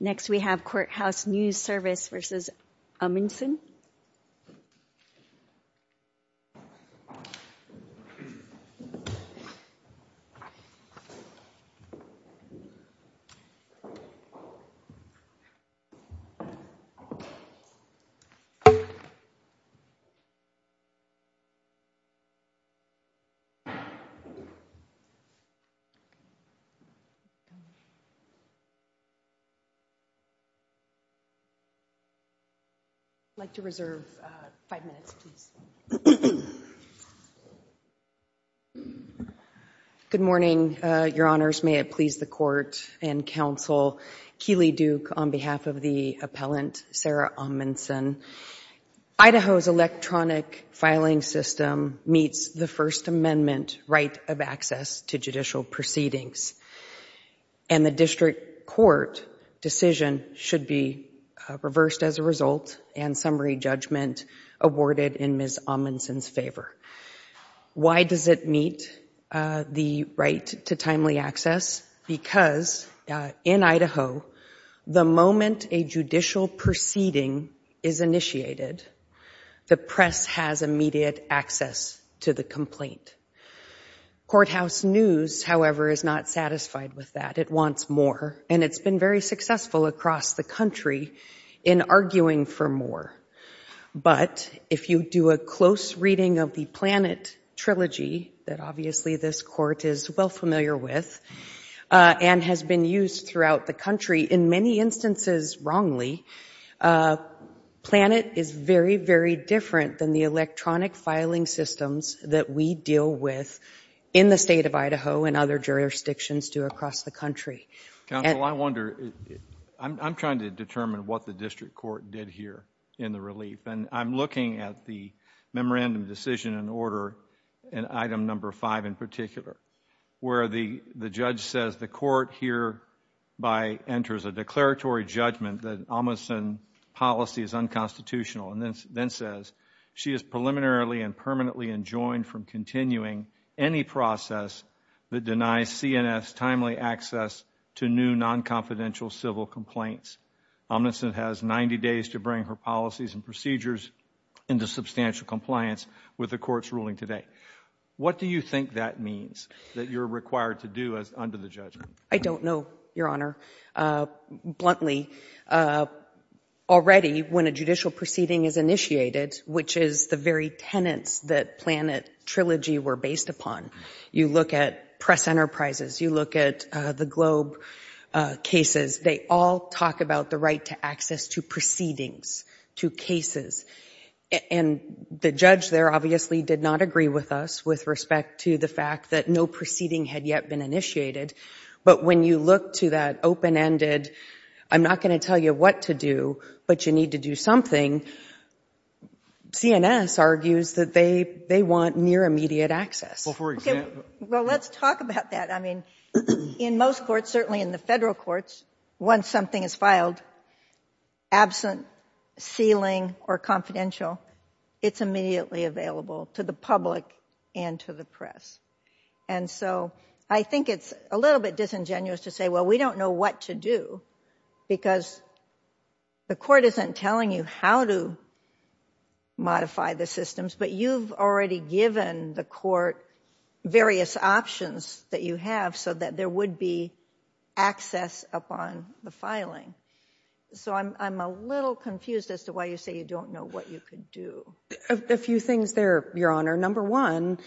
Next we have Courthouse News Service v. Omundson. I'd like to reserve five minutes, please. Good morning, Your Honors. May it please the Court and Counsel. Keeley Duke on behalf of the appellant, Sarah Omundson. Idaho's electronic filing system meets the First Amendment right of access to judicial proceedings. And the district court decision should be reversed as a result and summary judgment awarded in Ms. Omundson's favor. Why does it meet the right to timely access? Because in Idaho, the moment a judicial proceeding is initiated, the press has immediate access to the complaint. Courthouse News, however, is not satisfied with that. It wants more, and it's been very successful across the country in arguing for more. But if you do a close reading of the PLANET Trilogy, that obviously this Court is well familiar with, and has been used throughout the country in many instances wrongly, PLANET is very, very different than the electronic filing systems that we deal with in the state of Idaho and other jurisdictions do across the country. Counsel, I wonder, I'm trying to determine what the district court did here in the relief, and I'm looking at the Memorandum of Decision and Order, and item number five in particular, where the judge says the court hereby enters a declaratory judgment that Omundson's policy is unconstitutional, and then says she is preliminarily and permanently enjoined from continuing any process that denies CNS timely access to new non-confidential civil complaints. Omundson has 90 days to bring her policies and procedures into substantial compliance with the court's ruling today. What do you think that means that you're required to do under the judgment? I don't know, Your Honor. Bluntly, already when a judicial proceeding is initiated, which is the very tenets that PLANET Trilogy were based upon, you look at press enterprises, you look at the Globe cases, they all talk about the right to access to proceedings, to cases, and the judge there obviously did not agree with us with respect to the fact that no proceeding had yet been initiated, but when you look to that open-ended, I'm not going to tell you what to do, but you need to do something, and CNS argues that they want near-immediate access. Well, let's talk about that. I mean, in most courts, certainly in the federal courts, once something is filed, absent, sealing, or confidential, it's immediately available to the public and to the press, and so I think it's a little bit disingenuous to say, well, we don't know what to do, because the court isn't telling you how to modify the systems, but you've already given the court various options that you have so that there would be access upon the filing. So I'm a little confused as to why you say you don't know what you could do. A few things there, Your Honor. Number one,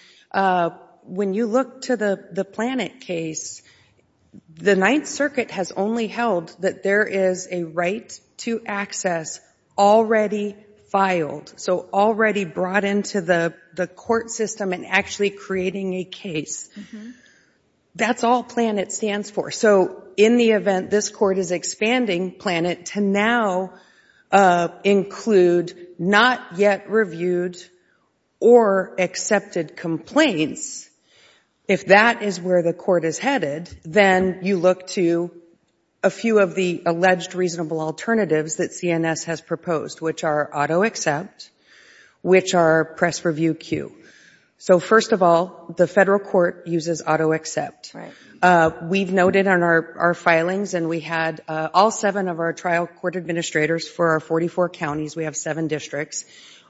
when you look to the Planet case, the Ninth Circuit has only held that there is a right to access already filed, so already brought into the court system and actually creating a case. That's all Planet stands for. So in the event this court is expanding Planet to now include not yet reviewed or accepted complaints, if that is where the court is headed, then you look to a few of the alleged reasonable alternatives that CNS has proposed, which are auto-accept, which are press-review-cue. So first of all, the federal court uses auto-accept. We've noted on our filings, and we had all seven of our trial court administrators for our 44 counties, we have seven districts,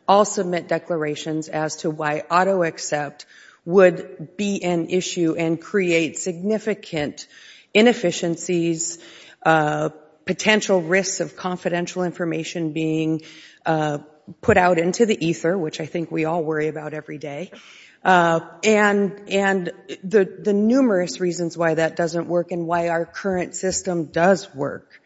all submit declarations as to why auto-accept would be an issue and create significant inefficiencies, potential risks of confidential information being put out into the ether, which I think we all worry about every day. And the numerous reasons why that doesn't work and why our current system does work,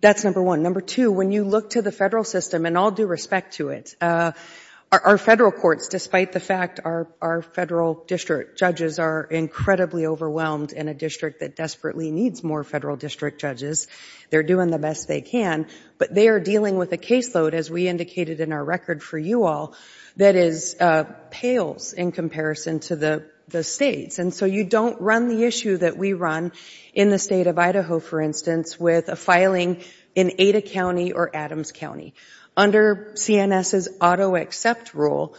that's number one. Number two, when you look to the federal system, and I'll do respect to it, our federal courts, despite the fact our federal district judges are incredibly overwhelmed in a district that desperately needs more federal district judges, they're doing the best they can, but they are dealing with a caseload, as we indicated in our record for you all, that pales in comparison to the states. And so you don't run the issue that we run in the state of Idaho, for instance, with a filing in Ada County or Adams County. Under CNS's auto-accept rule,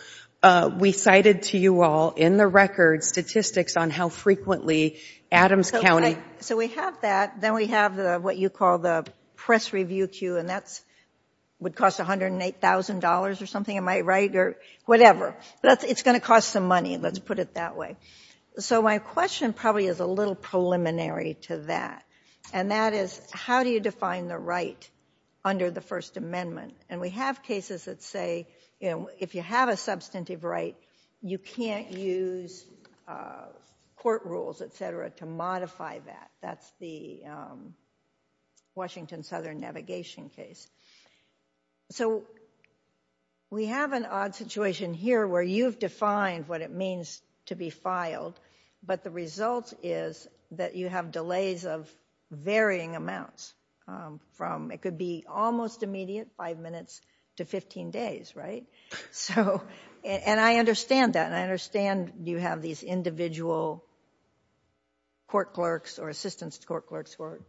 we cited to you all in the record statistics on how frequently Adams County So we have that. Then we have what you call the press review queue, and that would cost $108,000 or something, am I right? Or whatever. But it's going to cost some money, let's put it that way. So my question probably is a little preliminary to that, and that is, how do you define the right under the First Amendment? And we have cases that say, you know, if you have a substantive right, you can't use court rules, et cetera, to modify that. That's the Washington Southern Navigation case. So we have an odd situation here where you've defined what it means to be filed, but the result is that you have delays of varying amounts. It could be almost immediate, five minutes to 15 days, right? And I understand that, and I understand you have these individual court clerks or assistance court clerks who are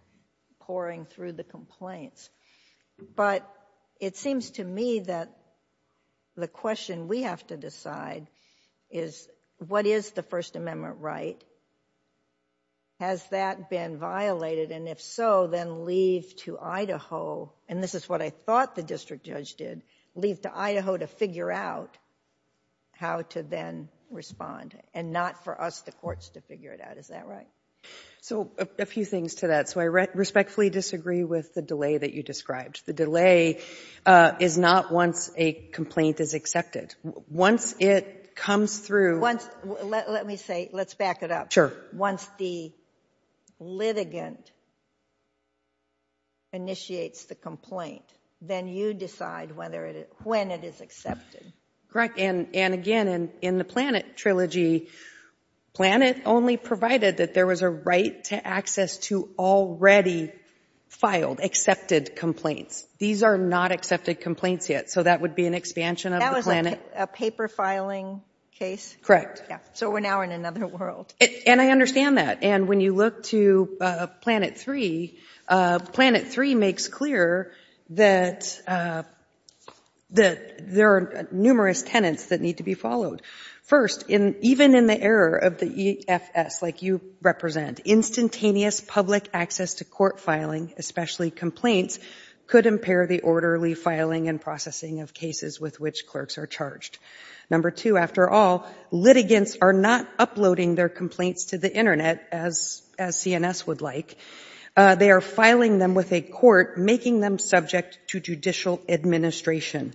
poring through the complaints, but it seems to me that the question we have to decide is, what is the First Amendment right? Has that been violated? And if so, then leave to Idaho, and this is what I thought the district judge did, leave to Idaho to figure out how to then respond and not for us, the courts, to figure it out. Is that right? So a few things to that. So I respectfully disagree with the delay that you described. The delay is not once a complaint is accepted. Once it comes through. Let me say, let's back it up. Once the litigant initiates the complaint, then you decide when it is accepted. Correct. And again, in the Planet Trilogy, Planet only provided that there was a right to access to already filed, accepted complaints. These are not accepted complaints yet, so that would be an expansion of the Planet. That was a paper filing case? Correct. So we're now in another world. And I understand that. And when you look to Planet III, Planet III makes clear that there are numerous tenets that need to be followed. First, even in the error of the EFS, like you represent, instantaneous public access to court filing, especially complaints, could impair the orderly filing and processing of cases with which clerks are charged. Number two, after all, litigants are not uploading their complaints to the Internet, as CNS would like. They are filing them with a court, making them subject to judicial administration.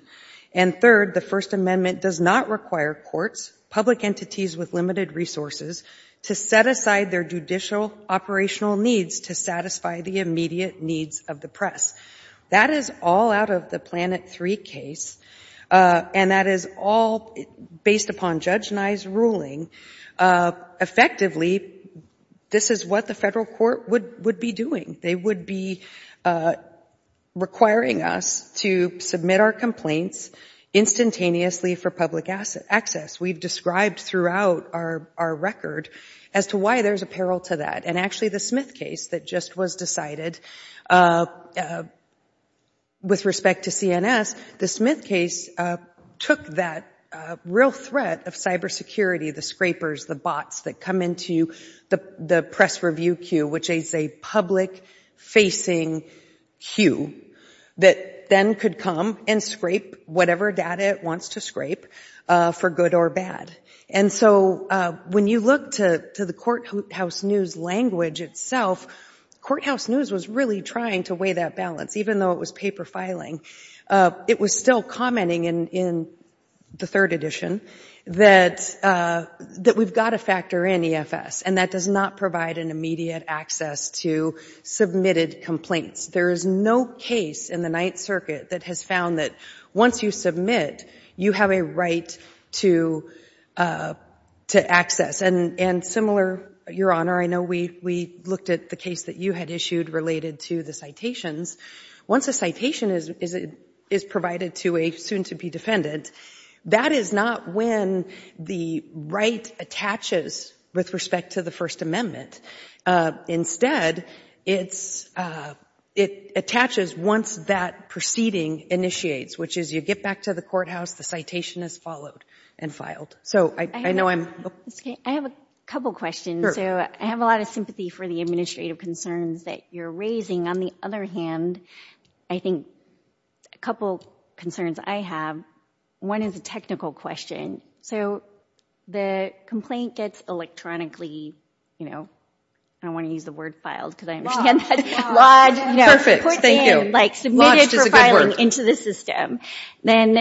And third, the First Amendment does not require courts, public entities with limited resources, to set aside their judicial operational needs to satisfy the immediate needs of the press. That is all out of the Planet III case, and that is all based upon Judge Nye's ruling. Effectively, this is what the federal court would be doing. They would be requiring us to submit our complaints instantaneously for public access. We've described throughout our record as to why there's a peril to that. And actually, the Smith case that just was decided with respect to CNS, the Smith case took that real threat of cybersecurity, the scrapers, the bots that come into the press review queue, which is a public-facing queue, that then could come and scrape whatever data it wants to scrape, for good or bad. And so when you look to the courthouse news language itself, courthouse news was really trying to weigh that balance, even though it was paper filing. It was still commenting in the third edition that we've got to factor in EFS, and that does not provide an immediate access to submitted complaints. There is no case in the Ninth Circuit that has found that once you submit, you have a right to access. And similar, Your Honor, I know we looked at the case that you had issued related to the citations. Once a citation is provided to a soon-to-be defendant, that is not when the right attaches with respect to the First Amendment. Instead, it attaches once that proceeding initiates, which is you get back to the courthouse, the citation is followed and filed. So I know I'm... I have a couple questions. Sure. So I have a lot of sympathy for the administrative concerns that you're raising. On the other hand, I think a couple concerns I have. One is a technical question. So the complaint gets electronically, you know, I don't want to use the word filed, because I understand that's lodged. Perfect, thank you. Put in, like submitted for filing into the system. Then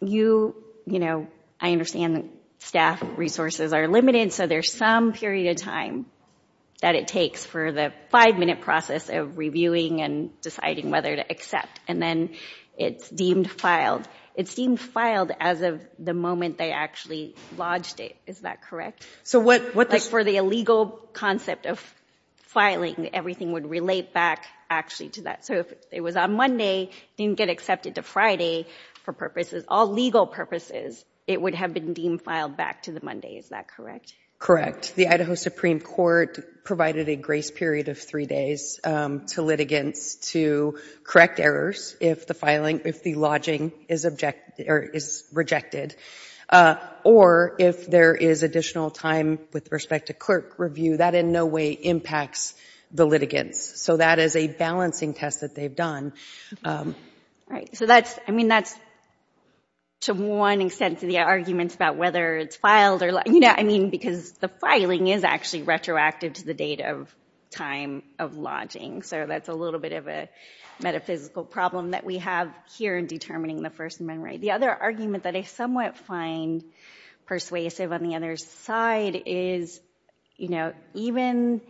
you, you know, I understand that staff resources are limited, and so there's some period of time that it takes for the five-minute process of reviewing and deciding whether to accept, and then it's deemed filed. It's deemed filed as of the moment they actually lodged it. Is that correct? So what... Like for the illegal concept of filing, everything would relate back actually to that. So if it was on Monday, didn't get accepted to Friday for purposes, all legal purposes, it would have been deemed filed back to the Monday, is that correct? The Idaho Supreme Court provided a grace period of three days to litigants to correct errors if the filing, if the lodging is rejected. Or if there is additional time with respect to clerk review, that in no way impacts the litigants. So that is a balancing test that they've done. All right. So that's, I mean, that's to one extent to the arguments about whether it's filed or not. You know, I mean, because the filing is actually retroactive to the date of time of lodging. So that's a little bit of a metaphysical problem that we have here in determining the first amendment. The other argument that I somewhat find persuasive on the other side is, you know, even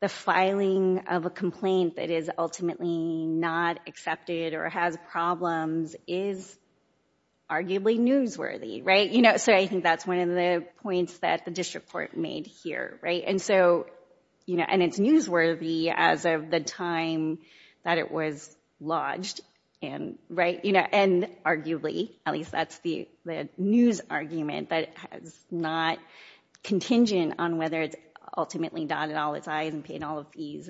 the filing of a complaint that is ultimately not accepted or has problems is arguably newsworthy. Right? You know, so I think that's one of the points that the district court made here. Right? And so, you know, and it's newsworthy as of the time that it was lodged. Right? You know, and arguably, at least that's the news argument that is not contingent on whether it's ultimately dotted all its I's and paid all its E's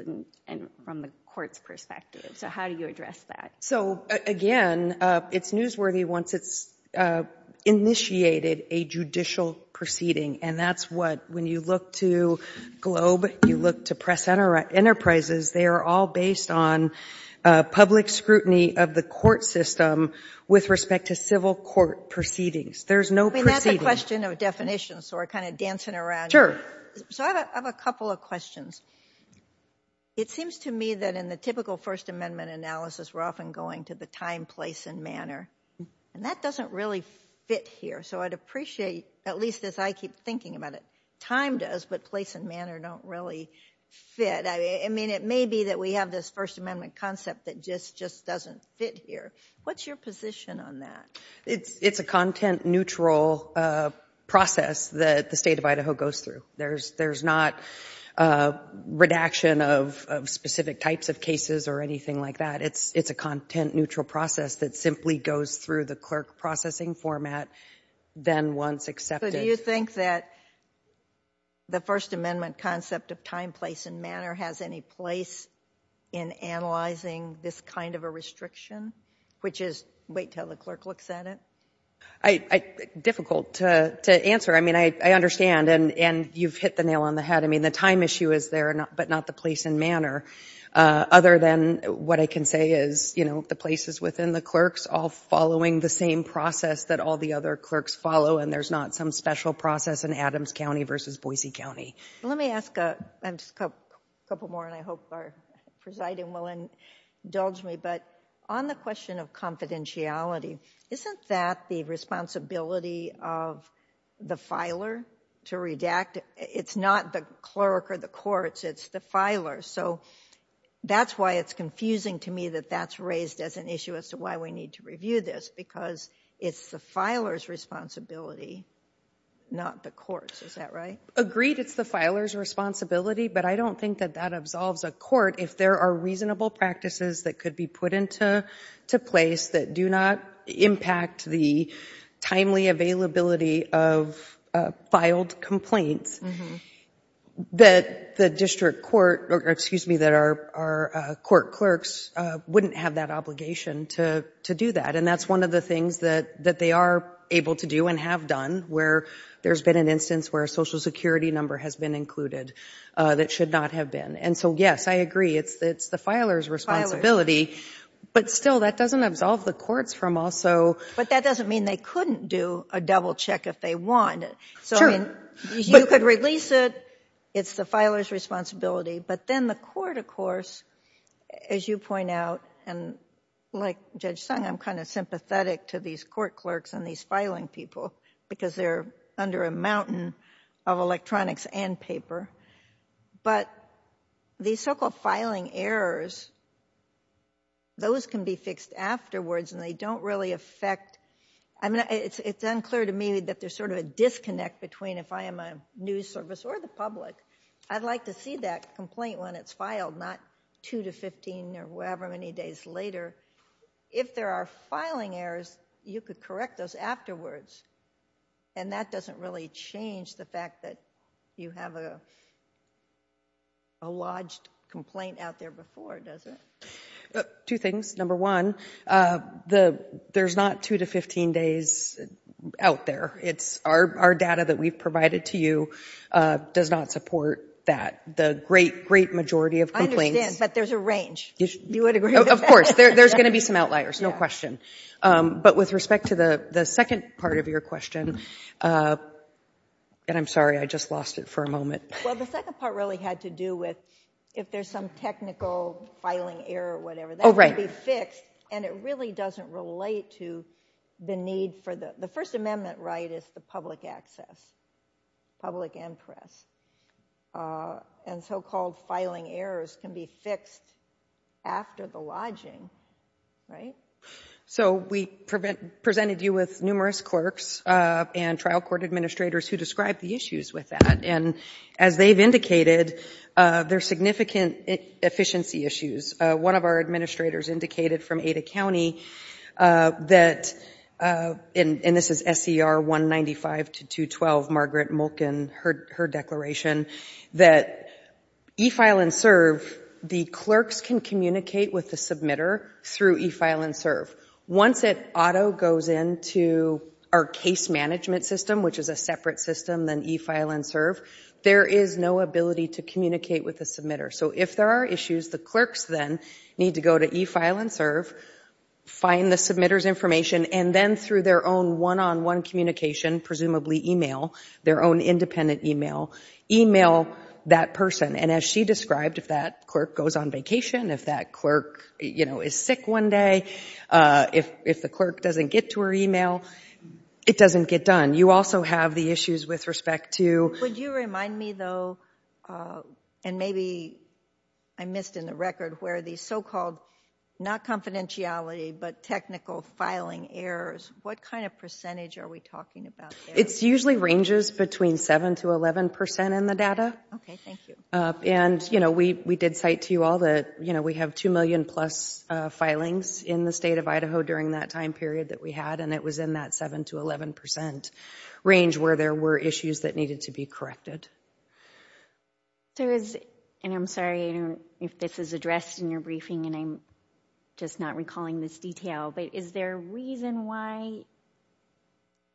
from the court's perspective. So how do you address that? So, again, it's newsworthy once it's initiated a judicial proceeding. And that's what, when you look to Globe, you look to Press Enterprises, they are all based on public scrutiny of the court system with respect to civil court proceedings. There's no proceedings. I mean, that's a question of definition, so we're kind of dancing around. Sure. So I have a couple of questions. It seems to me that in the typical first amendment analysis, we're often going to the time, place, and manner. And that doesn't really fit here. So I'd appreciate, at least as I keep thinking about it, time does, but place and manner don't really fit. I mean, it may be that we have this first amendment concept that just doesn't fit here. What's your position on that? It's a content-neutral process that the state of Idaho goes through. There's not redaction of specific types of cases or anything like that. It's a content-neutral process that simply goes through the clerk processing format, then once accepted. So do you think that the first amendment concept of time, place, and manner has any place in analyzing this kind of a restriction, which is wait until the clerk looks at it? Difficult to answer. I mean, I understand, and you've hit the nail on the head. I mean, the time issue is there, but not the place and manner, other than what I can say is, you know, the places within the clerks all following the same process that all the other clerks follow, and there's not some special process in Adams County versus Boise County. Let me ask a couple more, and I hope our presiding will indulge me, but on the question of confidentiality, isn't that the responsibility of the filer to redact? It's not the clerk or the courts. It's the filer, so that's why it's confusing to me that that's raised as an issue as to why we need to review this, because it's the filer's responsibility, not the court's. Is that right? Agreed it's the filer's responsibility, but I don't think that that absolves a court. If there are reasonable practices that could be put into place that do not impact the timely availability of filed complaints, that the district court or, excuse me, that our court clerks wouldn't have that obligation to do that, and that's one of the things that they are able to do and have done, where there's been an instance where a Social Security number has been included that should not have been. And so, yes, I agree, it's the filer's responsibility, but still, that doesn't absolve the courts from also. But that doesn't mean they couldn't do a double check if they want. Sure. You could release it. It's the filer's responsibility, but then the court, of course, as you point out, and like Judge Sung, I'm kind of sympathetic to these court clerks and these filing people, because they're under a mountain of electronics and paper. But these so-called filing errors, those can be fixed afterwards, and they don't really affect. It's unclear to me that there's sort of a disconnect between if I am a news service or the public. I'd like to see that complaint when it's filed, not 2 to 15 or however many days later. If there are filing errors, you could correct those afterwards, and that doesn't really change the fact that you have a lodged complaint out there before, does it? Two things. Number one, there's not 2 to 15 days out there. Our data that we've provided to you does not support that. The great, great majority of complaints. I understand, but there's a range. Of course. There's going to be some outliers, no question. But with respect to the second part of your question, and I'm sorry, I just lost it for a moment. Well, the second part really had to do with if there's some technical filing error or whatever, that can be fixed, and it really doesn't relate to the need for the first amendment right is the public access, public and press, and so-called filing errors can be fixed after the lodging, right? So we presented you with numerous clerks and trial court administrators who described the issues with that, and as they've indicated, there are significant efficiency issues. One of our administrators indicated from Ada County that, and this is SCR 195 to 212, Margaret Mulkin, her declaration, that e-file and serve, the clerks can communicate with the submitter through e-file and serve. Once it auto goes into our case management system, which is a separate system than e-file and serve, there is no ability to communicate with the submitter. So if there are issues, the clerks then need to go to e-file and serve, find the submitter's information, and then through their own one-on-one communication, presumably e-mail, their own independent e-mail, e-mail that person. And as she described, if that clerk goes on vacation, if that clerk, you know, is sick one day, if the clerk doesn't get to her e-mail, it doesn't get done. You also have the issues with respect to... Would you remind me, though, and maybe I missed in the record, where the so-called, not confidentiality, but technical filing errors, what kind of percentage are we talking about there? It usually ranges between 7% to 11% in the data. Okay, thank you. And, you know, we did cite to you all that, you know, we have 2 million-plus filings in the State of Idaho during that time period that we had, and it was in that 7% to 11% range where there were issues that needed to be corrected. And I'm sorry if this is addressed in your briefing, and I'm just not recalling this detail, but is there a reason why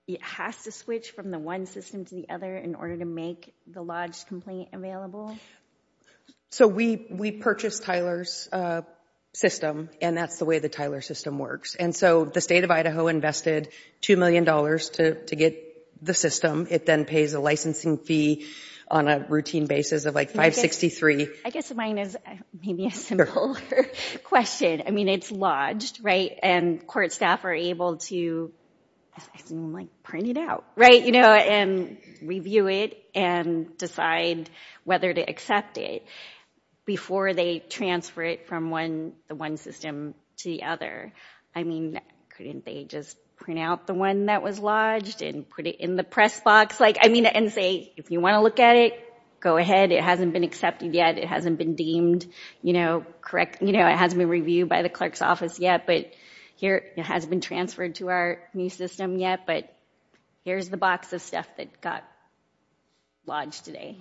it has to switch from the one system to the other in order to make the lodge complaint available? So we purchased Tyler's system, and that's the way the Tyler system works. And so the State of Idaho invested $2 million to get the system. It then pays a licensing fee on a routine basis of, like, 563. I guess mine is maybe a simpler question. I mean, it's lodged, right? And court staff are able to, I assume, like, print it out, right, you know, and review it and decide whether to accept it before they transfer it from the one system to the other. I mean, couldn't they just print out the one that was lodged and put it in the press box? Like, I mean, and say, if you want to look at it, go ahead. It hasn't been accepted yet. It hasn't been deemed, you know, correct. You know, it hasn't been reviewed by the clerk's office yet, but it hasn't been transferred to our new system yet, but here's the box of stuff that got lodged today.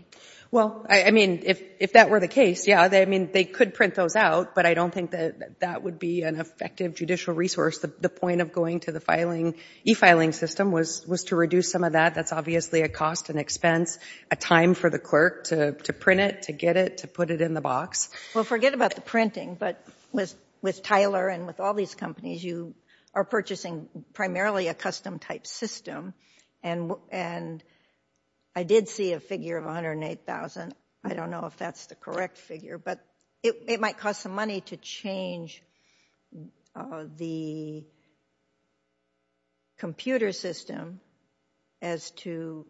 Well, I mean, if that were the case, yeah, I mean, they could print those out, but I don't think that that would be an effective judicial resource. The point of going to the e-filing system was to reduce some of that. That's obviously a cost and expense, a time for the clerk to print it, to get it, to put it in the box. Well, forget about the printing, but with Tyler and with all these companies, you are purchasing primarily a custom-type system, and I did see a figure of $108,000. I don't know if that's the correct figure, but it might cost some money to change the computer system as to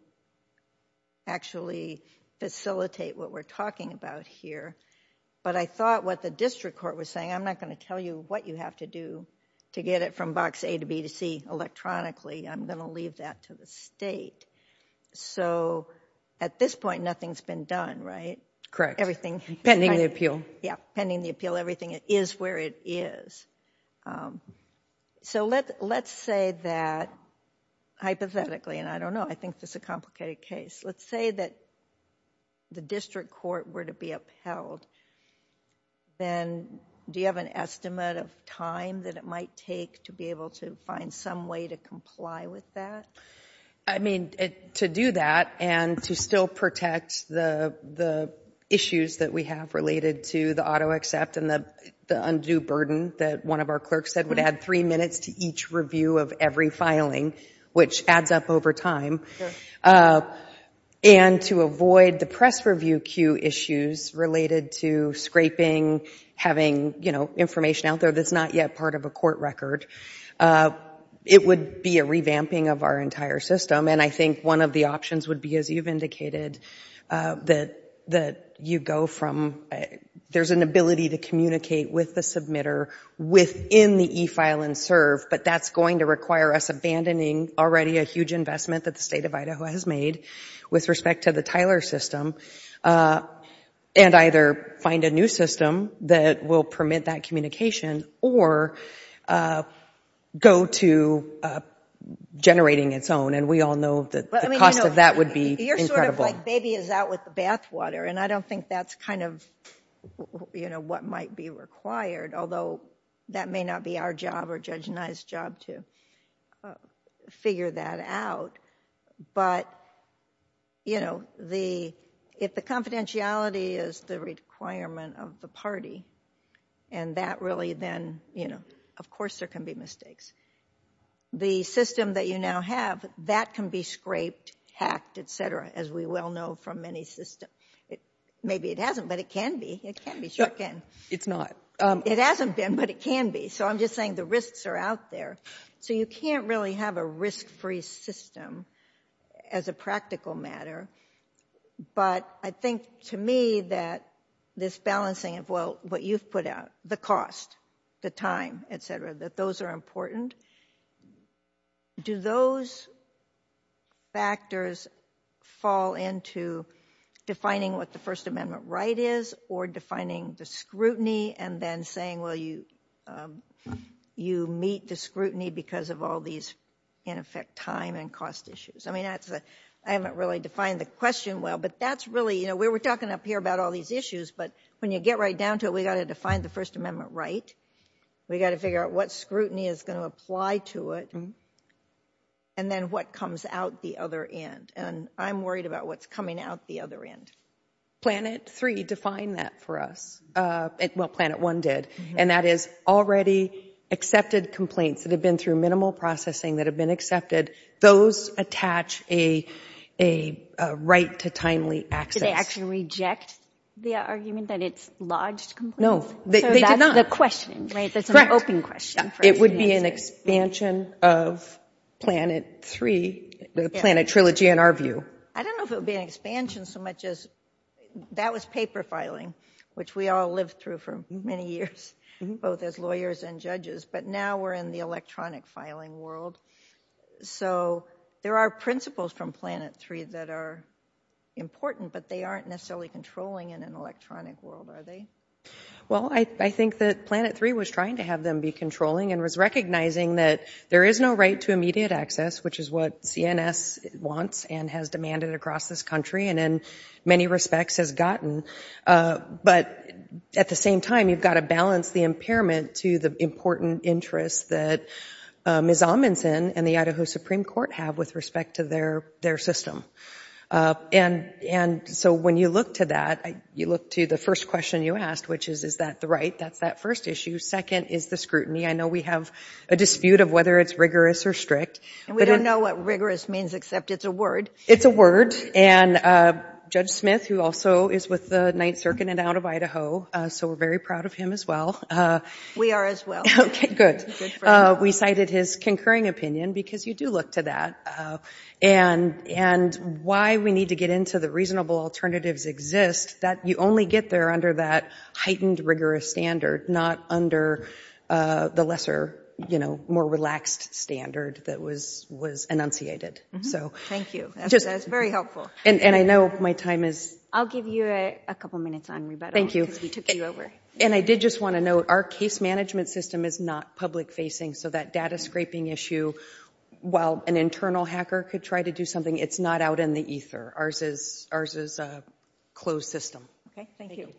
actually facilitate what we're talking about here, but I thought what the district court was saying, I'm not going to tell you what you have to do to get it from box A to B to C electronically. I'm going to leave that to the state. So at this point, nothing's been done, right? Correct. Everything. Pending the appeal. Yeah, pending the appeal. Everything is where it is. So let's say that, hypothetically, and I don't know, I think this is a complicated case. Let's say that the district court were to be upheld, then do you have an estimate of time that it might take to be able to find some way to comply with that? I mean, to do that and to still protect the issues that we have related to the auto accept and the undue burden that one of our clerks said would add three minutes to each review of every filing, which adds up over time, and to avoid the press review queue issues related to scraping, having information out there that's not yet part of a court record. It would be a revamping of our entire system, and I think one of the options would be, as you've indicated, that you go from, there's an ability to communicate with the submitter within the e-file and serve, but that's going to require us abandoning already a huge investment that the state of Idaho has made with respect to the Tyler system and either find a new system that will permit that communication or go to generating its own, and we all know that the cost of that would be incredible. You're sort of like baby is out with the bathwater, and I don't think that's kind of what might be required, although that may not be our job or Judge Nye's job to figure that out, but if the confidentiality is the requirement of the party and that really then, you know, of course there can be mistakes. The system that you now have, that can be scraped, hacked, et cetera, as we well know from many systems. Maybe it hasn't, but it can be. It can be. It's not. It hasn't been, but it can be. So I'm just saying the risks are out there. So you can't really have a risk-free system as a practical matter, but I think to me that this balancing of what you've put out, the cost, the time, et cetera, that those are important. Do those factors fall into defining what the First Amendment right is or defining the scrutiny and then saying, well, you meet the scrutiny because of all these, in effect, time and cost issues? I mean, I haven't really defined the question well, but that's really, you know, we were talking up here about all these issues, but when you get right down to it we've got to define the First Amendment right. We've got to figure out what scrutiny is going to apply to it and then what comes out the other end. And I'm worried about what's coming out the other end. Planet 3 defined that for us. Well, Planet 1 did. And that is already accepted complaints that have been through minimal processing that have been accepted. Those attach a right to timely access. Did they actually reject the argument that it's lodged complaints? No, they did not. So that's the question, right? Correct. That's an open question for us to answer. It would be an expansion of Planet 3, the Planet trilogy, in our view. I don't know if it would be an expansion so much as that was paper filing, which we all lived through for many years, both as lawyers and judges, but now we're in the electronic filing world. So there are principles from Planet 3 that are important, but they aren't necessarily controlling in an electronic world, are they? Well, I think that Planet 3 was trying to have them be controlling and was recognizing that there is no right to immediate access, which is what CNS wants and has demanded across this country and in many respects has gotten. But at the same time you've got to balance the impairment to the important interests that Ms. Amundson and the Idaho Supreme Court have with respect to their system. And so when you look to that, you look to the first question you asked, which is, is that the right? That's that first issue. Second is the scrutiny. I know we have a dispute of whether it's rigorous or strict. And we don't know what rigorous means except it's a word. It's a word. And Judge Smith, who also is with the Ninth Circuit and out of Idaho, so we're very proud of him as well. We are as well. Okay, good. We cited his concurring opinion because you do look to that. And why we need to get into the reasonable alternatives exist, that you only get there under that heightened rigorous standard, not under the lesser, more relaxed standard that was enunciated. Thank you. That's very helpful. And I know my time is up. I'll give you a couple minutes on rebuttal. Thank you. Because we took you over. And I did just want to note, our case management system is not public facing. So that data scraping issue, while an internal hacker could try to do something, it's not out in the ether. Ours is a closed system. Okay, thank you.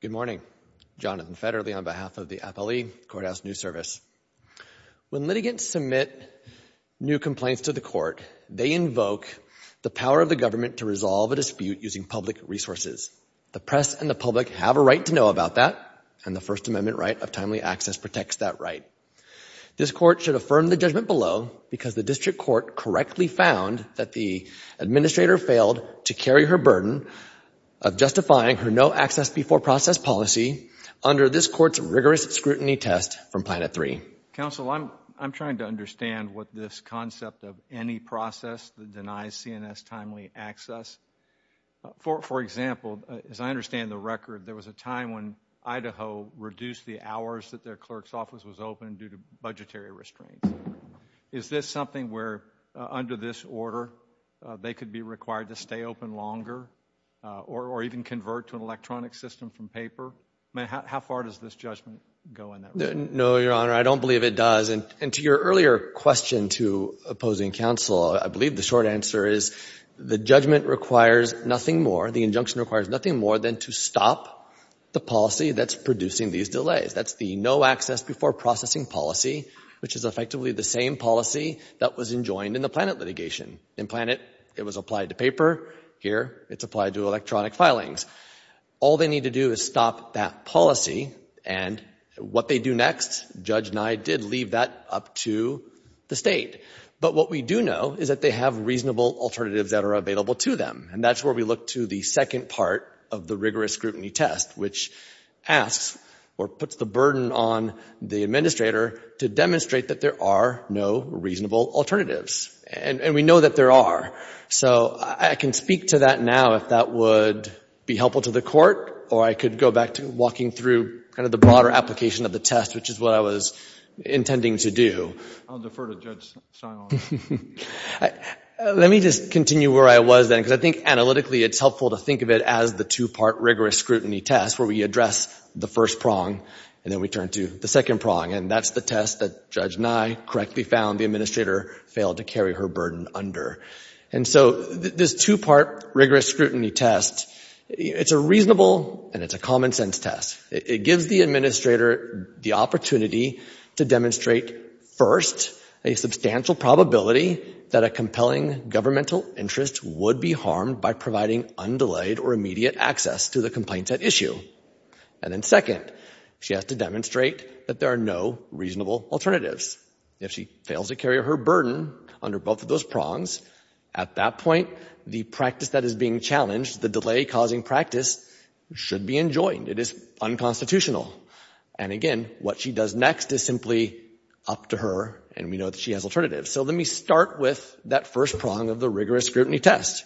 Good morning. Jonathan Federley on behalf of the Appellee Courthouse News Service. When litigants submit new complaints to the court, they invoke the power of the government to resolve a dispute using public resources. The press and the public have a right to know about that, and the First Amendment right of timely access protects that right. This court should affirm the judgment below because the district court correctly found that the administrator failed to carry her burden of justifying her no-access-before-process policy under this court's rigorous scrutiny test from Planet 3. Counsel, I'm trying to understand what this concept of any process that denies CNS timely access. For example, as I understand the record, there was a time when Idaho reduced the hours that their clerk's office was open due to budgetary restraints. Is this something where, under this order, they could be required to stay open longer or even convert to an electronic system from paper? I mean, how far does this judgment go in that regard? No, Your Honor, I don't believe it does. And to your earlier question to opposing counsel, I believe the short answer is the judgment requires nothing more, the injunction requires nothing more than to stop the policy that's producing these delays. That's the no-access-before-processing policy, which is effectively the same policy that was enjoined in the Planet litigation In Planet, it was applied to paper. Here, it's applied to electronic filings. All they need to do is stop that policy, and what they do next, Judge Nye did leave that up to the state. But what we do know is that they have reasonable alternatives that are available to them, and that's where we look to the second part of the rigorous scrutiny test, which asks or puts the burden on the administrator to demonstrate that there are no reasonable alternatives. And we know that there are. So I can speak to that now, if that would be helpful to the court, or I could go back to walking through kind of the broader application of the test, which is what I was intending to do. I'll defer to Judge Simon. Let me just continue where I was then, because I think analytically it's helpful to think of it as the two-part rigorous scrutiny test, where we address the first prong and then we turn to the second prong, and that's the test that Judge Nye correctly found the administrator failed to carry her burden under. And so this two-part rigorous scrutiny test, it's a reasonable and it's a common sense test. It gives the administrator the opportunity to demonstrate, first, a substantial probability that a compelling governmental interest would be harmed by providing undelayed or immediate access to the complaints at issue. And then, second, she has to demonstrate that there are no reasonable alternatives. If she fails to carry her burden under both of those prongs, at that point, the practice that is being challenged, the delay-causing practice, should be enjoined. It is unconstitutional. And again, what she does next is simply up to her, and we know that she has alternatives. So let me start with that first prong of the rigorous scrutiny test.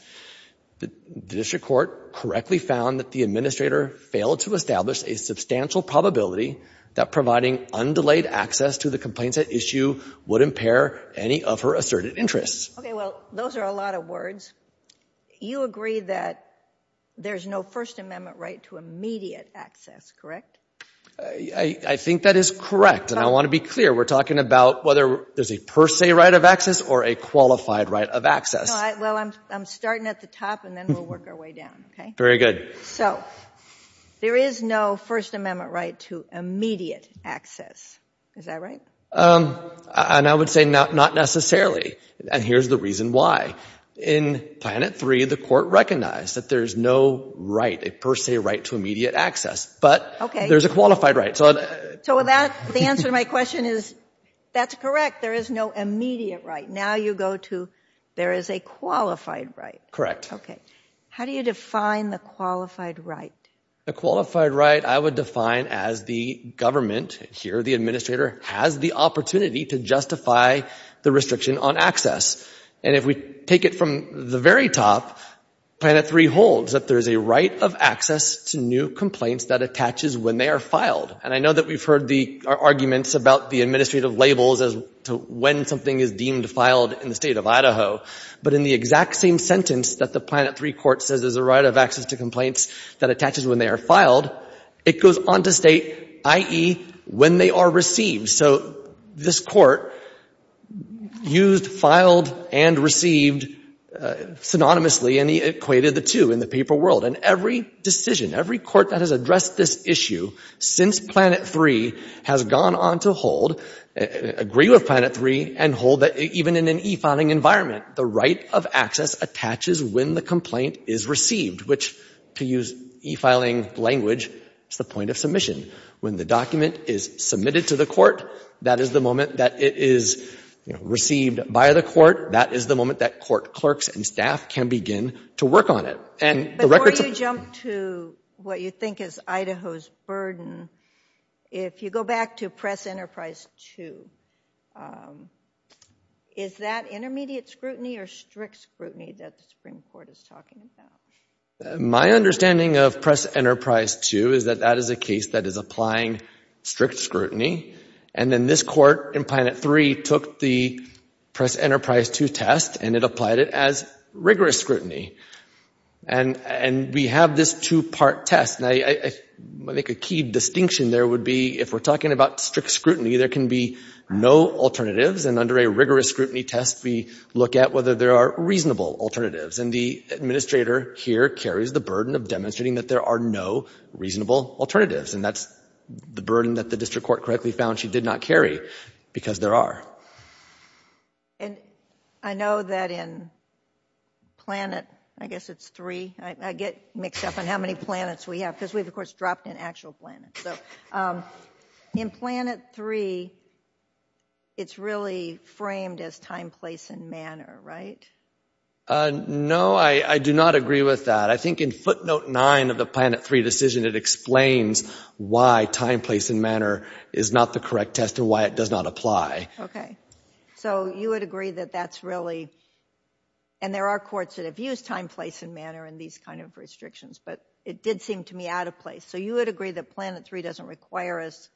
The district court correctly found that the administrator failed to establish a substantial probability that providing undelayed access to the complaints at issue would impair any of her asserted interests. Okay, well, those are a lot of words. You agree that there's no First Amendment right to immediate access, correct? I think that is correct, and I want to be clear. We're talking about whether there's a per se right of access or a qualified right of access. Well, I'm starting at the top, and then we'll work our way down, okay? Very good. So, there is no First Amendment right to immediate access. Is that right? And I would say not necessarily, and here's the reason why. In Planet 3, the court recognized that there's no right, a per se right to immediate access, but there's a qualified right. So the answer to my question is that's correct. There is no immediate right. Now you go to there is a qualified right. Correct. Okay. How do you define the qualified right? A qualified right I would define as the government, here the administrator, has the opportunity to justify the restriction on access. And if we take it from the very top, Planet 3 holds that there's a right of access to new complaints that attaches when they are filed. And I know that we've heard the arguments about the administrative labels as to when something is deemed filed in the state of Idaho, but in the exact same sentence that the Planet 3 court says there's a right of access to complaints that attaches when they are filed, it goes on to state, i.e., when they are received. So this court used filed and received synonymously and equated the two in the paper world. And every decision, every court that has addressed this issue since Planet 3 has gone on to hold, agree with Planet 3, and hold that even in an e-filing environment, the right of access attaches when the complaint is received, which, to use e-filing language, is the point of submission. When the document is submitted to the court, that is the moment that it is received by the court. That is the moment that court clerks and staff can begin to work on it. Before you jump to what you think is Idaho's burden, if you go back to Press Enterprise 2, is that intermediate scrutiny or strict scrutiny that the Supreme Court is talking about? My understanding of Press Enterprise 2 is that that is a case that is applying strict scrutiny, and then this court in Planet 3 took the Press Enterprise 2 test and it applied it as rigorous scrutiny. And we have this two-part test. And I think a key distinction there would be if we're talking about strict scrutiny, there can be no alternatives, and under a rigorous scrutiny test, we look at whether there are reasonable alternatives. And the administrator here carries the burden of demonstrating that there are no reasonable alternatives, and that's the burden that the district court correctly found she did not carry, because there are. And I know that in Planet, I guess it's 3, I get mixed up on how many planets we have, because we've, of course, dropped in actual planets. So in Planet 3, it's really framed as time, place, and manner, right? No, I do not agree with that. I think in footnote 9 of the Planet 3 decision, it explains why time, place, and manner is not the correct test and why it does not apply. Okay. So you would agree that that's really, and there are courts that have used time, place, and manner in these kind of restrictions, but it did seem to me out of place. So you would agree that Planet 3 doesn't require us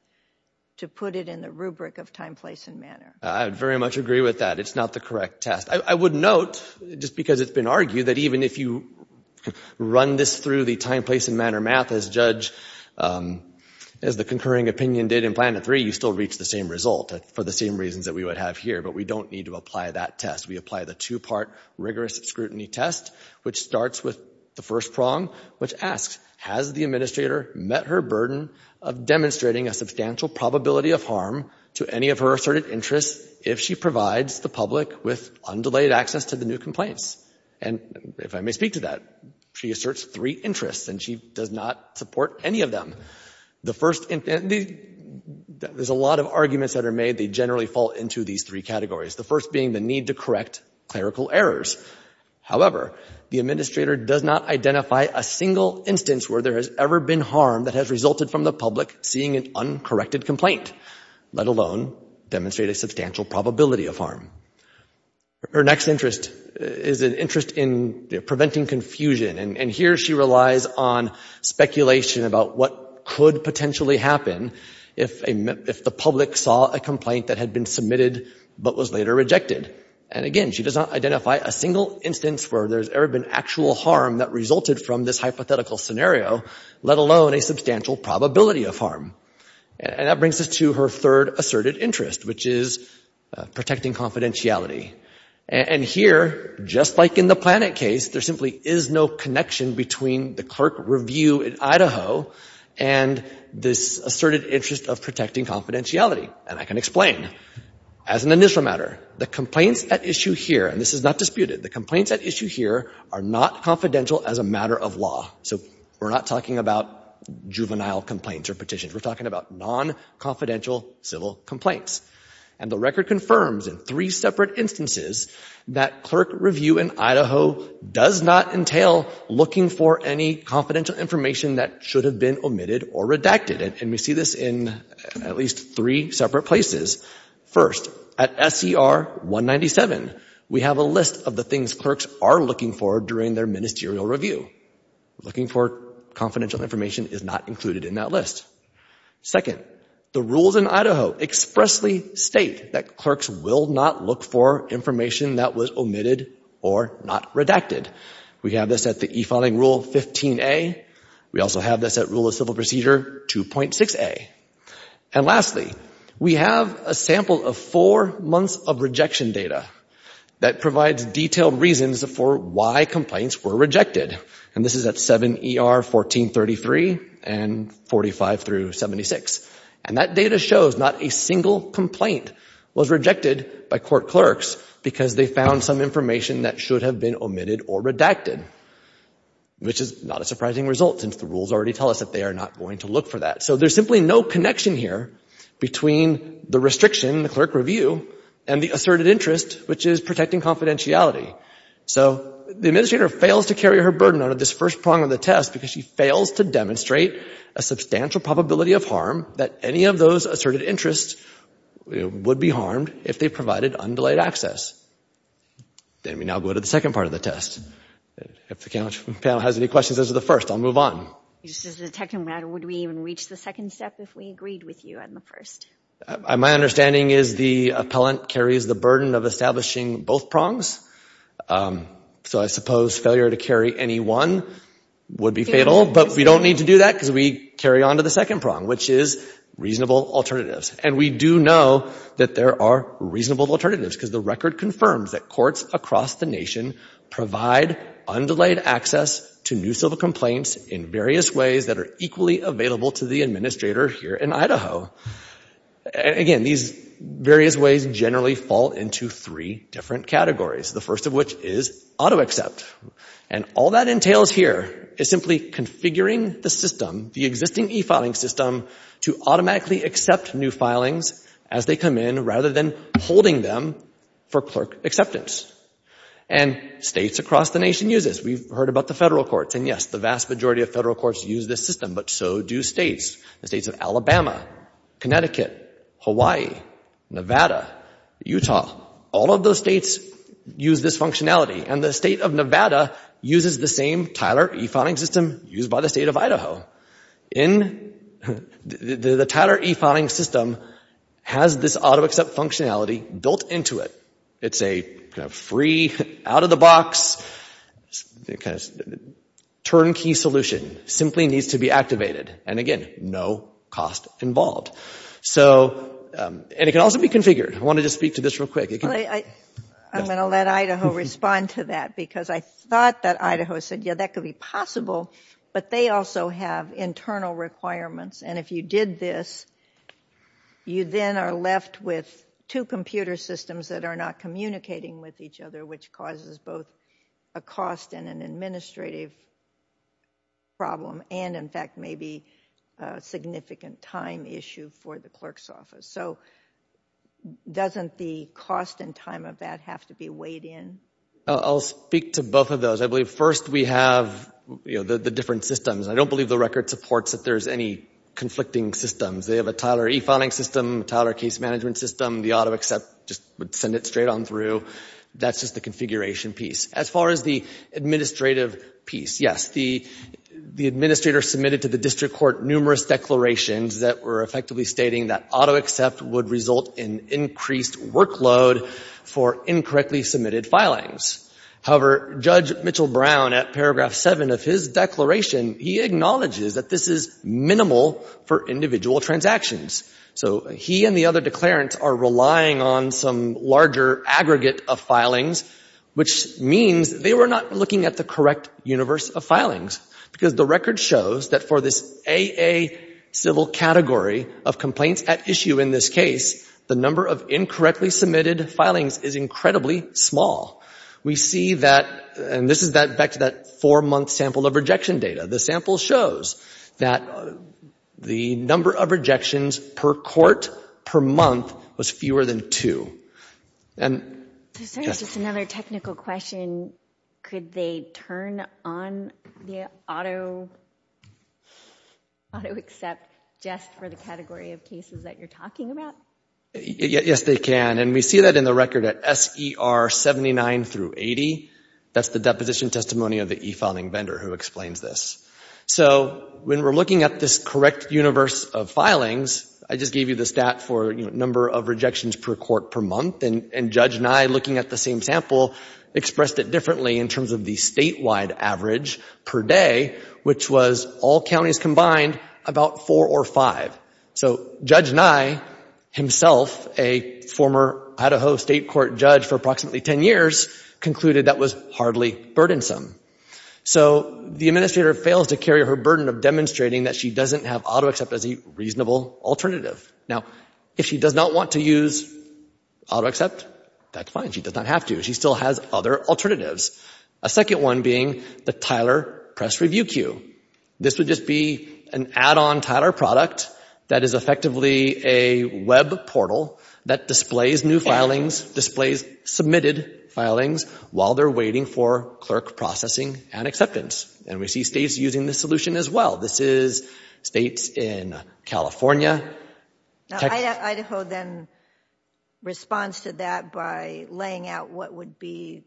to put it in the rubric of time, place, and manner? I would very much agree with that. It's not the correct test. I would note, just because it's been argued, that even if you run this through the time, place, and manner math as Judge, as the concurring opinion did in Planet 3, you still reach the same result for the same reasons that we would have here, but we don't need to apply that test. We apply the two-part rigorous scrutiny test, which starts with the first prong, which asks, has the administrator met her burden of demonstrating a substantial probability of harm to any of her asserted interests if she provides the public with undelayed access to the new complaints? And if I may speak to that, she asserts three interests, and she does not support any of them. The first, there's a lot of arguments that are made. They generally fall into these three categories, the first being the need to correct clerical errors. However, the administrator does not identify a single instance where there has ever been harm that has resulted from the public seeing an uncorrected complaint, let alone demonstrate a substantial probability of harm. Her next interest is an interest in preventing confusion, and here she relies on speculation about what could potentially happen if the public saw a complaint that had been submitted but was later rejected. And again, she does not identify a single instance where there's ever been actual harm that resulted from this hypothetical scenario, let alone a substantial probability of harm. And that brings us to her third asserted interest, which is protecting confidentiality. And here, just like in the Planet case, there simply is no connection between the clerk review in Idaho and this asserted interest of protecting confidentiality. And I can explain. As an initial matter, the complaints at issue here, and this is not disputed, the complaints at issue here are not confidential as a matter of law. So we're not talking about juvenile complaints or petitions. We're talking about non-confidential civil complaints. And the record confirms in three separate instances that clerk review in Idaho does not entail looking for any confidential information that should have been omitted or redacted. And we see this in at least three separate places. First, at SCR 197, we have a list of the things clerks are looking for during their ministerial review. Looking for confidential information is not included in that list. Second, the rules in Idaho expressly state that clerks will not look for information that was omitted or not redacted. We have this at the e-filing rule 15A. We also have this at rule of civil procedure 2.6A. And lastly, we have a sample of four months of rejection data that provides detailed reasons for why complaints were rejected. And this is at 7 ER 1433 and 45 through 76. And that data shows not a single complaint was rejected by court clerks because they found some information that should have been omitted or redacted, which is not a surprising result since the rules already tell us that they are not going to look for that. So there's simply no connection here between the restriction, the clerk review, and the asserted interest, which is protecting confidentiality. So the administrator fails to carry her burden out of this first prong of the test because she fails to demonstrate a substantial probability of harm that any of those asserted interests would be harmed if they provided undelayed access. Then we now go to the second part of the test. If the panel has any questions as to the first, I'll move on. Just as a technical matter, would we even reach the second step if we agreed with you on the first? My understanding is the appellant carries the burden of establishing both prongs. So I suppose failure to carry any one would be fatal, but we don't need to do that because we carry on to the second prong, which is reasonable alternatives. And we do know that there are reasonable alternatives because the record confirms that courts across the nation provide undelayed access to new civil complaints in various ways that are equally available to the administrator here in Idaho. Again, these various ways generally fall into three different categories, the first of which is auto-accept. And all that entails here is simply configuring the system, the existing e-filing system, to automatically accept new filings as they come in rather than holding them for clerk acceptance. And states across the nation use this. We've heard about the federal courts, and yes, the vast majority of federal courts use this system, but so do states. The states of Alabama, Connecticut, Hawaii, Nevada, Utah, all of those states use this functionality. And the state of Nevada uses the same Tyler e-filing system used by the state of Idaho. The Tyler e-filing system has this auto-accept functionality built into it. It's a free, out-of-the-box, turnkey solution. It simply needs to be activated. And again, no cost involved. And it can also be configured. I wanted to speak to this real quick. I'm going to let Idaho respond to that because I thought that Idaho said, yeah, that could be possible, but they also have internal requirements. And if you did this, you then are left with two computer systems that are not communicating with each other, which causes both a cost and an administrative problem and, in fact, maybe a significant time issue for the clerk's office. So doesn't the cost and time of that have to be weighed in? I'll speak to both of those. I believe first we have the different systems. I don't believe the record supports that there's any conflicting systems. They have a Tyler e-filing system, a Tyler case management system. The auto-accept just would send it straight on through. That's just the configuration piece. As far as the administrative piece, yes, the administrator submitted to the district court numerous declarations that were effectively stating that auto-accept would result in increased workload for incorrectly submitted filings. However, Judge Mitchell Brown, at paragraph 7 of his declaration, he acknowledges that this is minimal for individual transactions. So he and the other declarants are relying on some larger aggregate of filings, which means they were not looking at the correct universe of filings because the record shows that for this AA civil category of complaints at issue in this case, the number of incorrectly submitted filings is incredibly small. We see that, and this is back to that four-month sample of rejection data. The sample shows that the number of rejections per court per month was fewer than two. And... Just another technical question. Could they turn on the auto-accept just for the category of cases that you're talking about? Yes, they can. And we see that in the record at SER 79 through 80. That's the deposition testimony of the e-filing vendor who explains this. So when we're looking at this correct universe of filings, I just gave you the stat for number of rejections per court per month, and Judge Nye, looking at the same sample, expressed it differently in terms of the statewide average per day, which was all counties combined, about four or five. So Judge Nye himself, a former Idaho State Court judge for approximately 10 years, concluded that was hardly burdensome. So the administrator fails to carry her burden of demonstrating that she doesn't have auto-accept as a reasonable alternative. Now, if she does not want to use auto-accept, that's fine. She does not have to. She still has other alternatives. A second one being the Tyler Press Review Q. This would just be an add-on Tyler product that is effectively a web portal that displays new filings, displays submitted filings, while they're waiting for clerk processing and acceptance. And we see states using this solution as well. This is states in California. Now, Idaho then responds to that by laying out what would be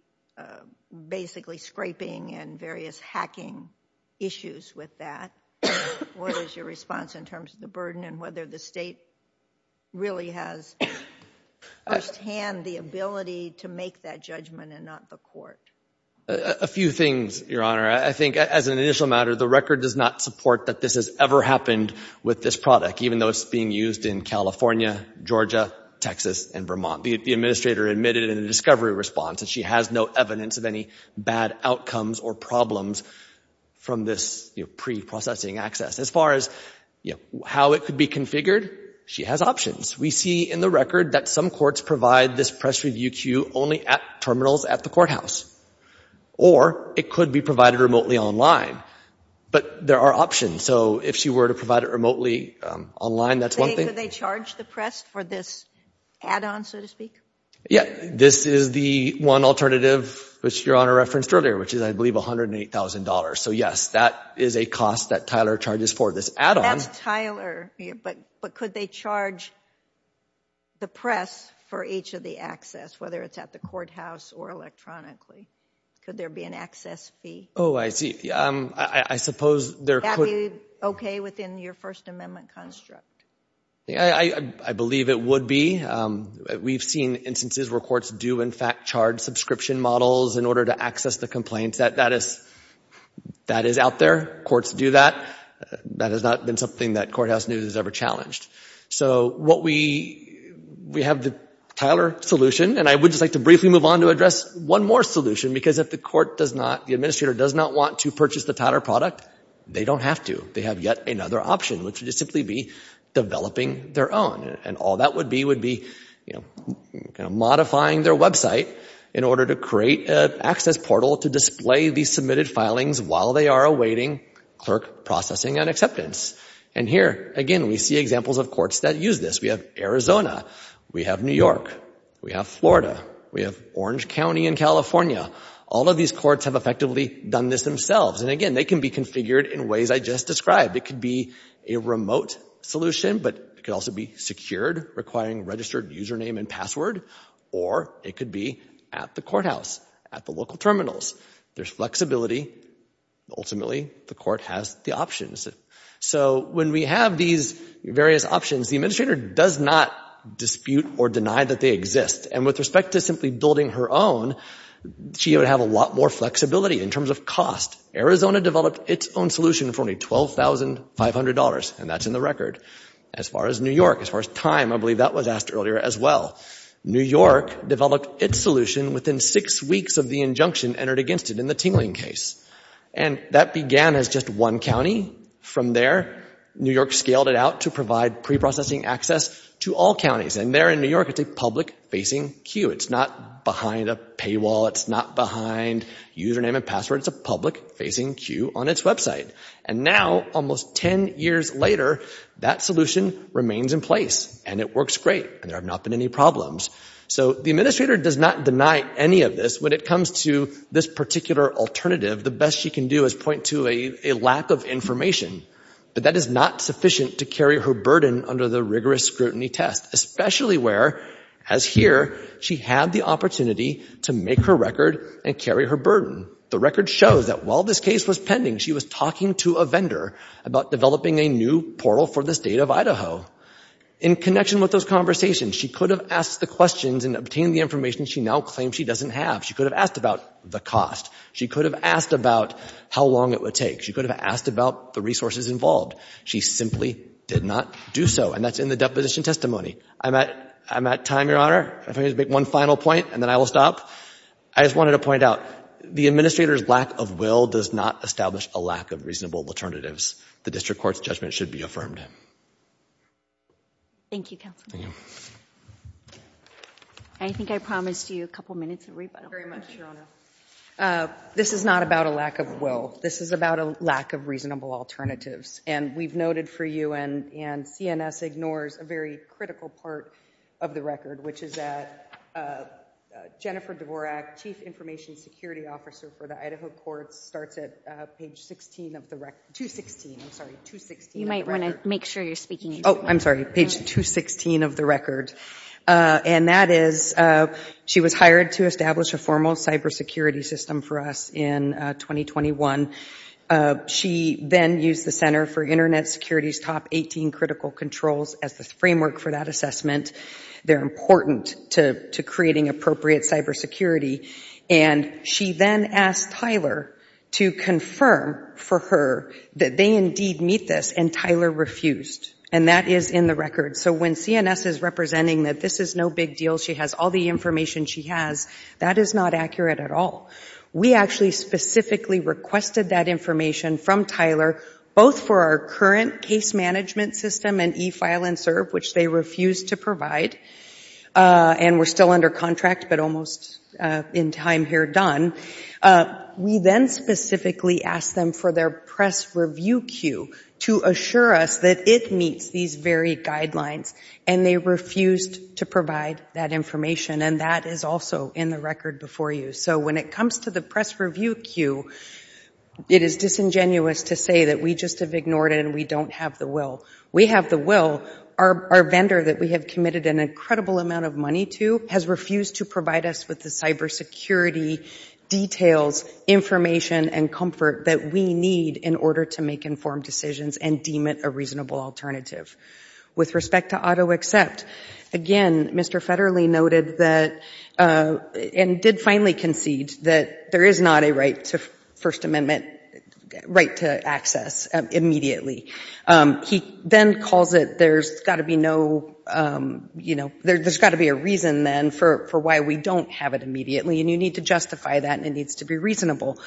basically scraping and various hacking issues with that. What is your response in terms of the burden and whether the state really has firsthand the ability to make that judgment and not the court? A few things, Your Honor. I think as an initial matter, the record does not support that this has ever happened with this product, even though it's being used in California, Georgia, Texas, and Vermont. The administrator admitted in a discovery response that she has no evidence of any bad outcomes or problems from this pre-processing access. As far as how it could be configured, she has options. We see in the record that some courts provide this Press Review Q. only at terminals at the courthouse. Or it could be provided remotely online. But there are options. So if she were to provide it remotely online, that's one thing. Could they charge the press for this add-on, so to speak? Yeah, this is the one alternative which Your Honor referenced earlier, which is, I believe, $108,000. So yes, that is a cost that Tyler charges for this add-on. That's Tyler. But could they charge the press for each of the access, whether it's at the courthouse or electronically? Could there be an access fee? Oh, I see. I suppose there could... Would that be okay within your First Amendment construct? I believe it would be. We've seen instances where courts do, in fact, in order to access the complaints. That is out there. Courts do that. That has not been something that Courthouse News has ever challenged. So we have the Tyler solution. And I would just like to briefly move on to address one more solution. Because if the court does not, the administrator does not want to purchase the Tyler product, they don't have to. They have yet another option, which would just simply be developing their own. And all that would be would be, you know, modifying their website in order to create an access portal to display the submitted filings while they are awaiting clerk processing and acceptance. And here, again, we see examples of courts that use this. We have Arizona. We have New York. We have Florida. We have Orange County in California. All of these courts have effectively done this themselves. And again, they can be configured in ways I just described. It could be a remote solution, but it could also be secured, requiring a registered username and password. Or it could be at the courthouse, at the local terminals. There's flexibility. Ultimately, the court has the options. So when we have these various options, the administrator does not dispute or deny that they exist. And with respect to simply building her own, she would have a lot more flexibility in terms of cost. Arizona developed its own solution for only $12,500. And that's in the record. As far as New York, as far as time, I believe that was asked earlier as well. New York developed its solution within six weeks of the injunction entered against it in the Tingling case. And that began as just one county. From there, New York scaled it out to provide preprocessing access to all counties. And there in New York, it's a public-facing queue. It's not behind a paywall. It's not behind username and password. It's a public-facing queue on its website. And now, almost 10 years later, that solution remains in place, and it works great, and there have not been any problems. So the administrator does not deny any of this. When it comes to this particular alternative, the best she can do is point to a lack of information. But that is not sufficient to carry her burden under the rigorous scrutiny test, especially where, as here, she had the opportunity to make her record and carry her burden. The record shows that while this case was pending, she was talking to a vendor about developing a new portal for the state of Idaho. In connection with those conversations, she could have asked the questions and obtained the information she now claims she doesn't have. She could have asked about the cost. She could have asked about how long it would take. She could have asked about the resources involved. She simply did not do so, and that's in the deposition testimony. I'm at time, Your Honor. If I may just make one final point, and then I will stop. I just wanted to point out, the administrator's lack of will does not establish a lack of reasonable alternatives. The district court's judgment should be affirmed. Thank you, Counselor. I think I promised you a couple minutes of rebuttal. Thank you very much, Your Honor. This is not about a lack of will. This is about a lack of reasonable alternatives. And we've noted for you, and CNS ignores a very critical part of the record, which is that Jennifer Dvorak, Chief Information Security Officer for the Idaho Courts, starts at page 16 of the record. 216, I'm sorry, 216 of the record. You might want to make sure you're speaking into the microphone. Oh, I'm sorry, page 216 of the record. And that is, she was hired to establish a formal cybersecurity system for us in 2021. She then used the Center for Internet Security's top 18 critical controls as the framework for that assessment. They're important to creating appropriate cybersecurity. And she then asked Tyler to confirm for her that they indeed meet this, and Tyler refused. And that is in the record. So when CNS is representing that this is no big deal, she has all the information she has, that is not accurate at all. We actually specifically requested that information from Tyler, both for our current case management system and e-file and serve, which they refused to provide. And we're still under contract, but almost in time here done. We then specifically asked them for their press review queue to assure us that it meets these very guidelines, and they refused to provide that information. And that is also in the record before you. So when it comes to the press review queue, it is disingenuous to say that we just have ignored it and we don't have the will. We have the will. Our vendor that we have committed an incredible amount of money to has refused to provide us with the cybersecurity details, information, and comfort that we need in order to make informed decisions and deem it a reasonable alternative. With respect to auto accept, again, Mr. Federle noted that and did finally concede that there is not a right to First Amendment, right to access immediately. He then calls it there's got to be no, you know, there's got to be a reason then for why we don't have it immediately, and you need to justify that and it needs to be reasonable.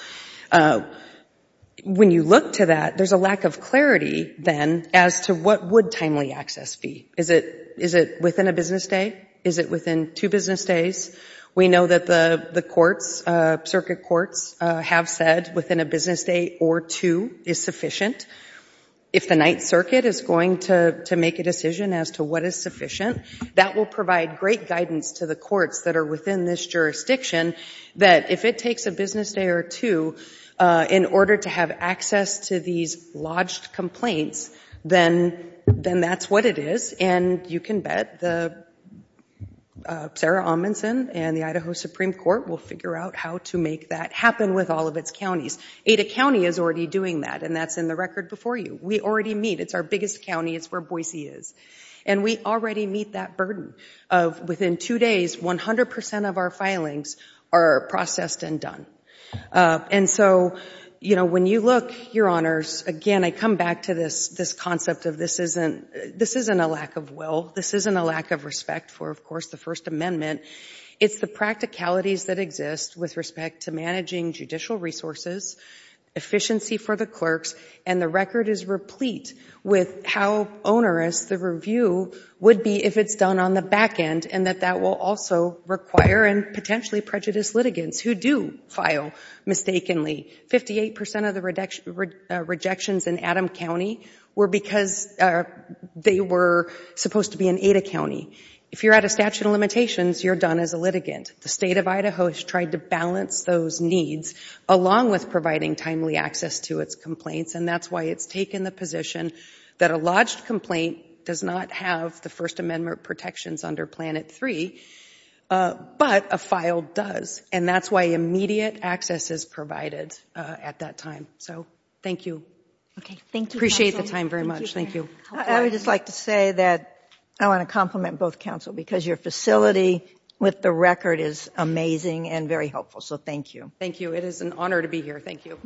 When you look to that, there's a lack of clarity then as to what would timely access be. Is it within a business day? Is it within two business days? We know that the courts, circuit courts, have said within a business day or two is sufficient. If the Ninth Circuit is going to make a decision as to what is sufficient, that will provide great guidance to the courts that are within this jurisdiction that if it takes a business day or two in order to have access to these lodged complaints, then that's what it is, and you can bet Sarah Amundson and the Idaho Supreme Court will figure out how to make that happen with all of its counties. Ada County is already doing that, and that's in the record before you. We already meet. It's our biggest county. It's where Boise is, and we already meet that burden of within two days, 100% of our filings are processed and done. And so, you know, when you look, Your Honors, again, I come back to this concept of this isn't a lack of will. This isn't a lack of respect for, of course, the First Amendment. It's the practicalities that exist with respect to managing judicial resources, efficiency for the clerks, and the record is replete with how onerous the review would be if it's done on the back end, and that that will also require and potentially prejudice litigants who do file mistakenly. Fifty-eight percent of the rejections in Adam County were because they were supposed to be in Ada County. If you're out of statute of limitations, you're done as a litigant. The State of Idaho has tried to balance those needs along with providing timely access to its complaints, and that's why it's taken the position that a lodged complaint does not have the First Amendment protections under Planet 3, but a file does, and that's why immediate access is provided at that time. So thank you. Appreciate the time very much. Thank you. I would just like to say that I want to compliment both counsel because your facility with the record is amazing and very helpful, so thank you. Thank you. It is an honor to be here. Thank you.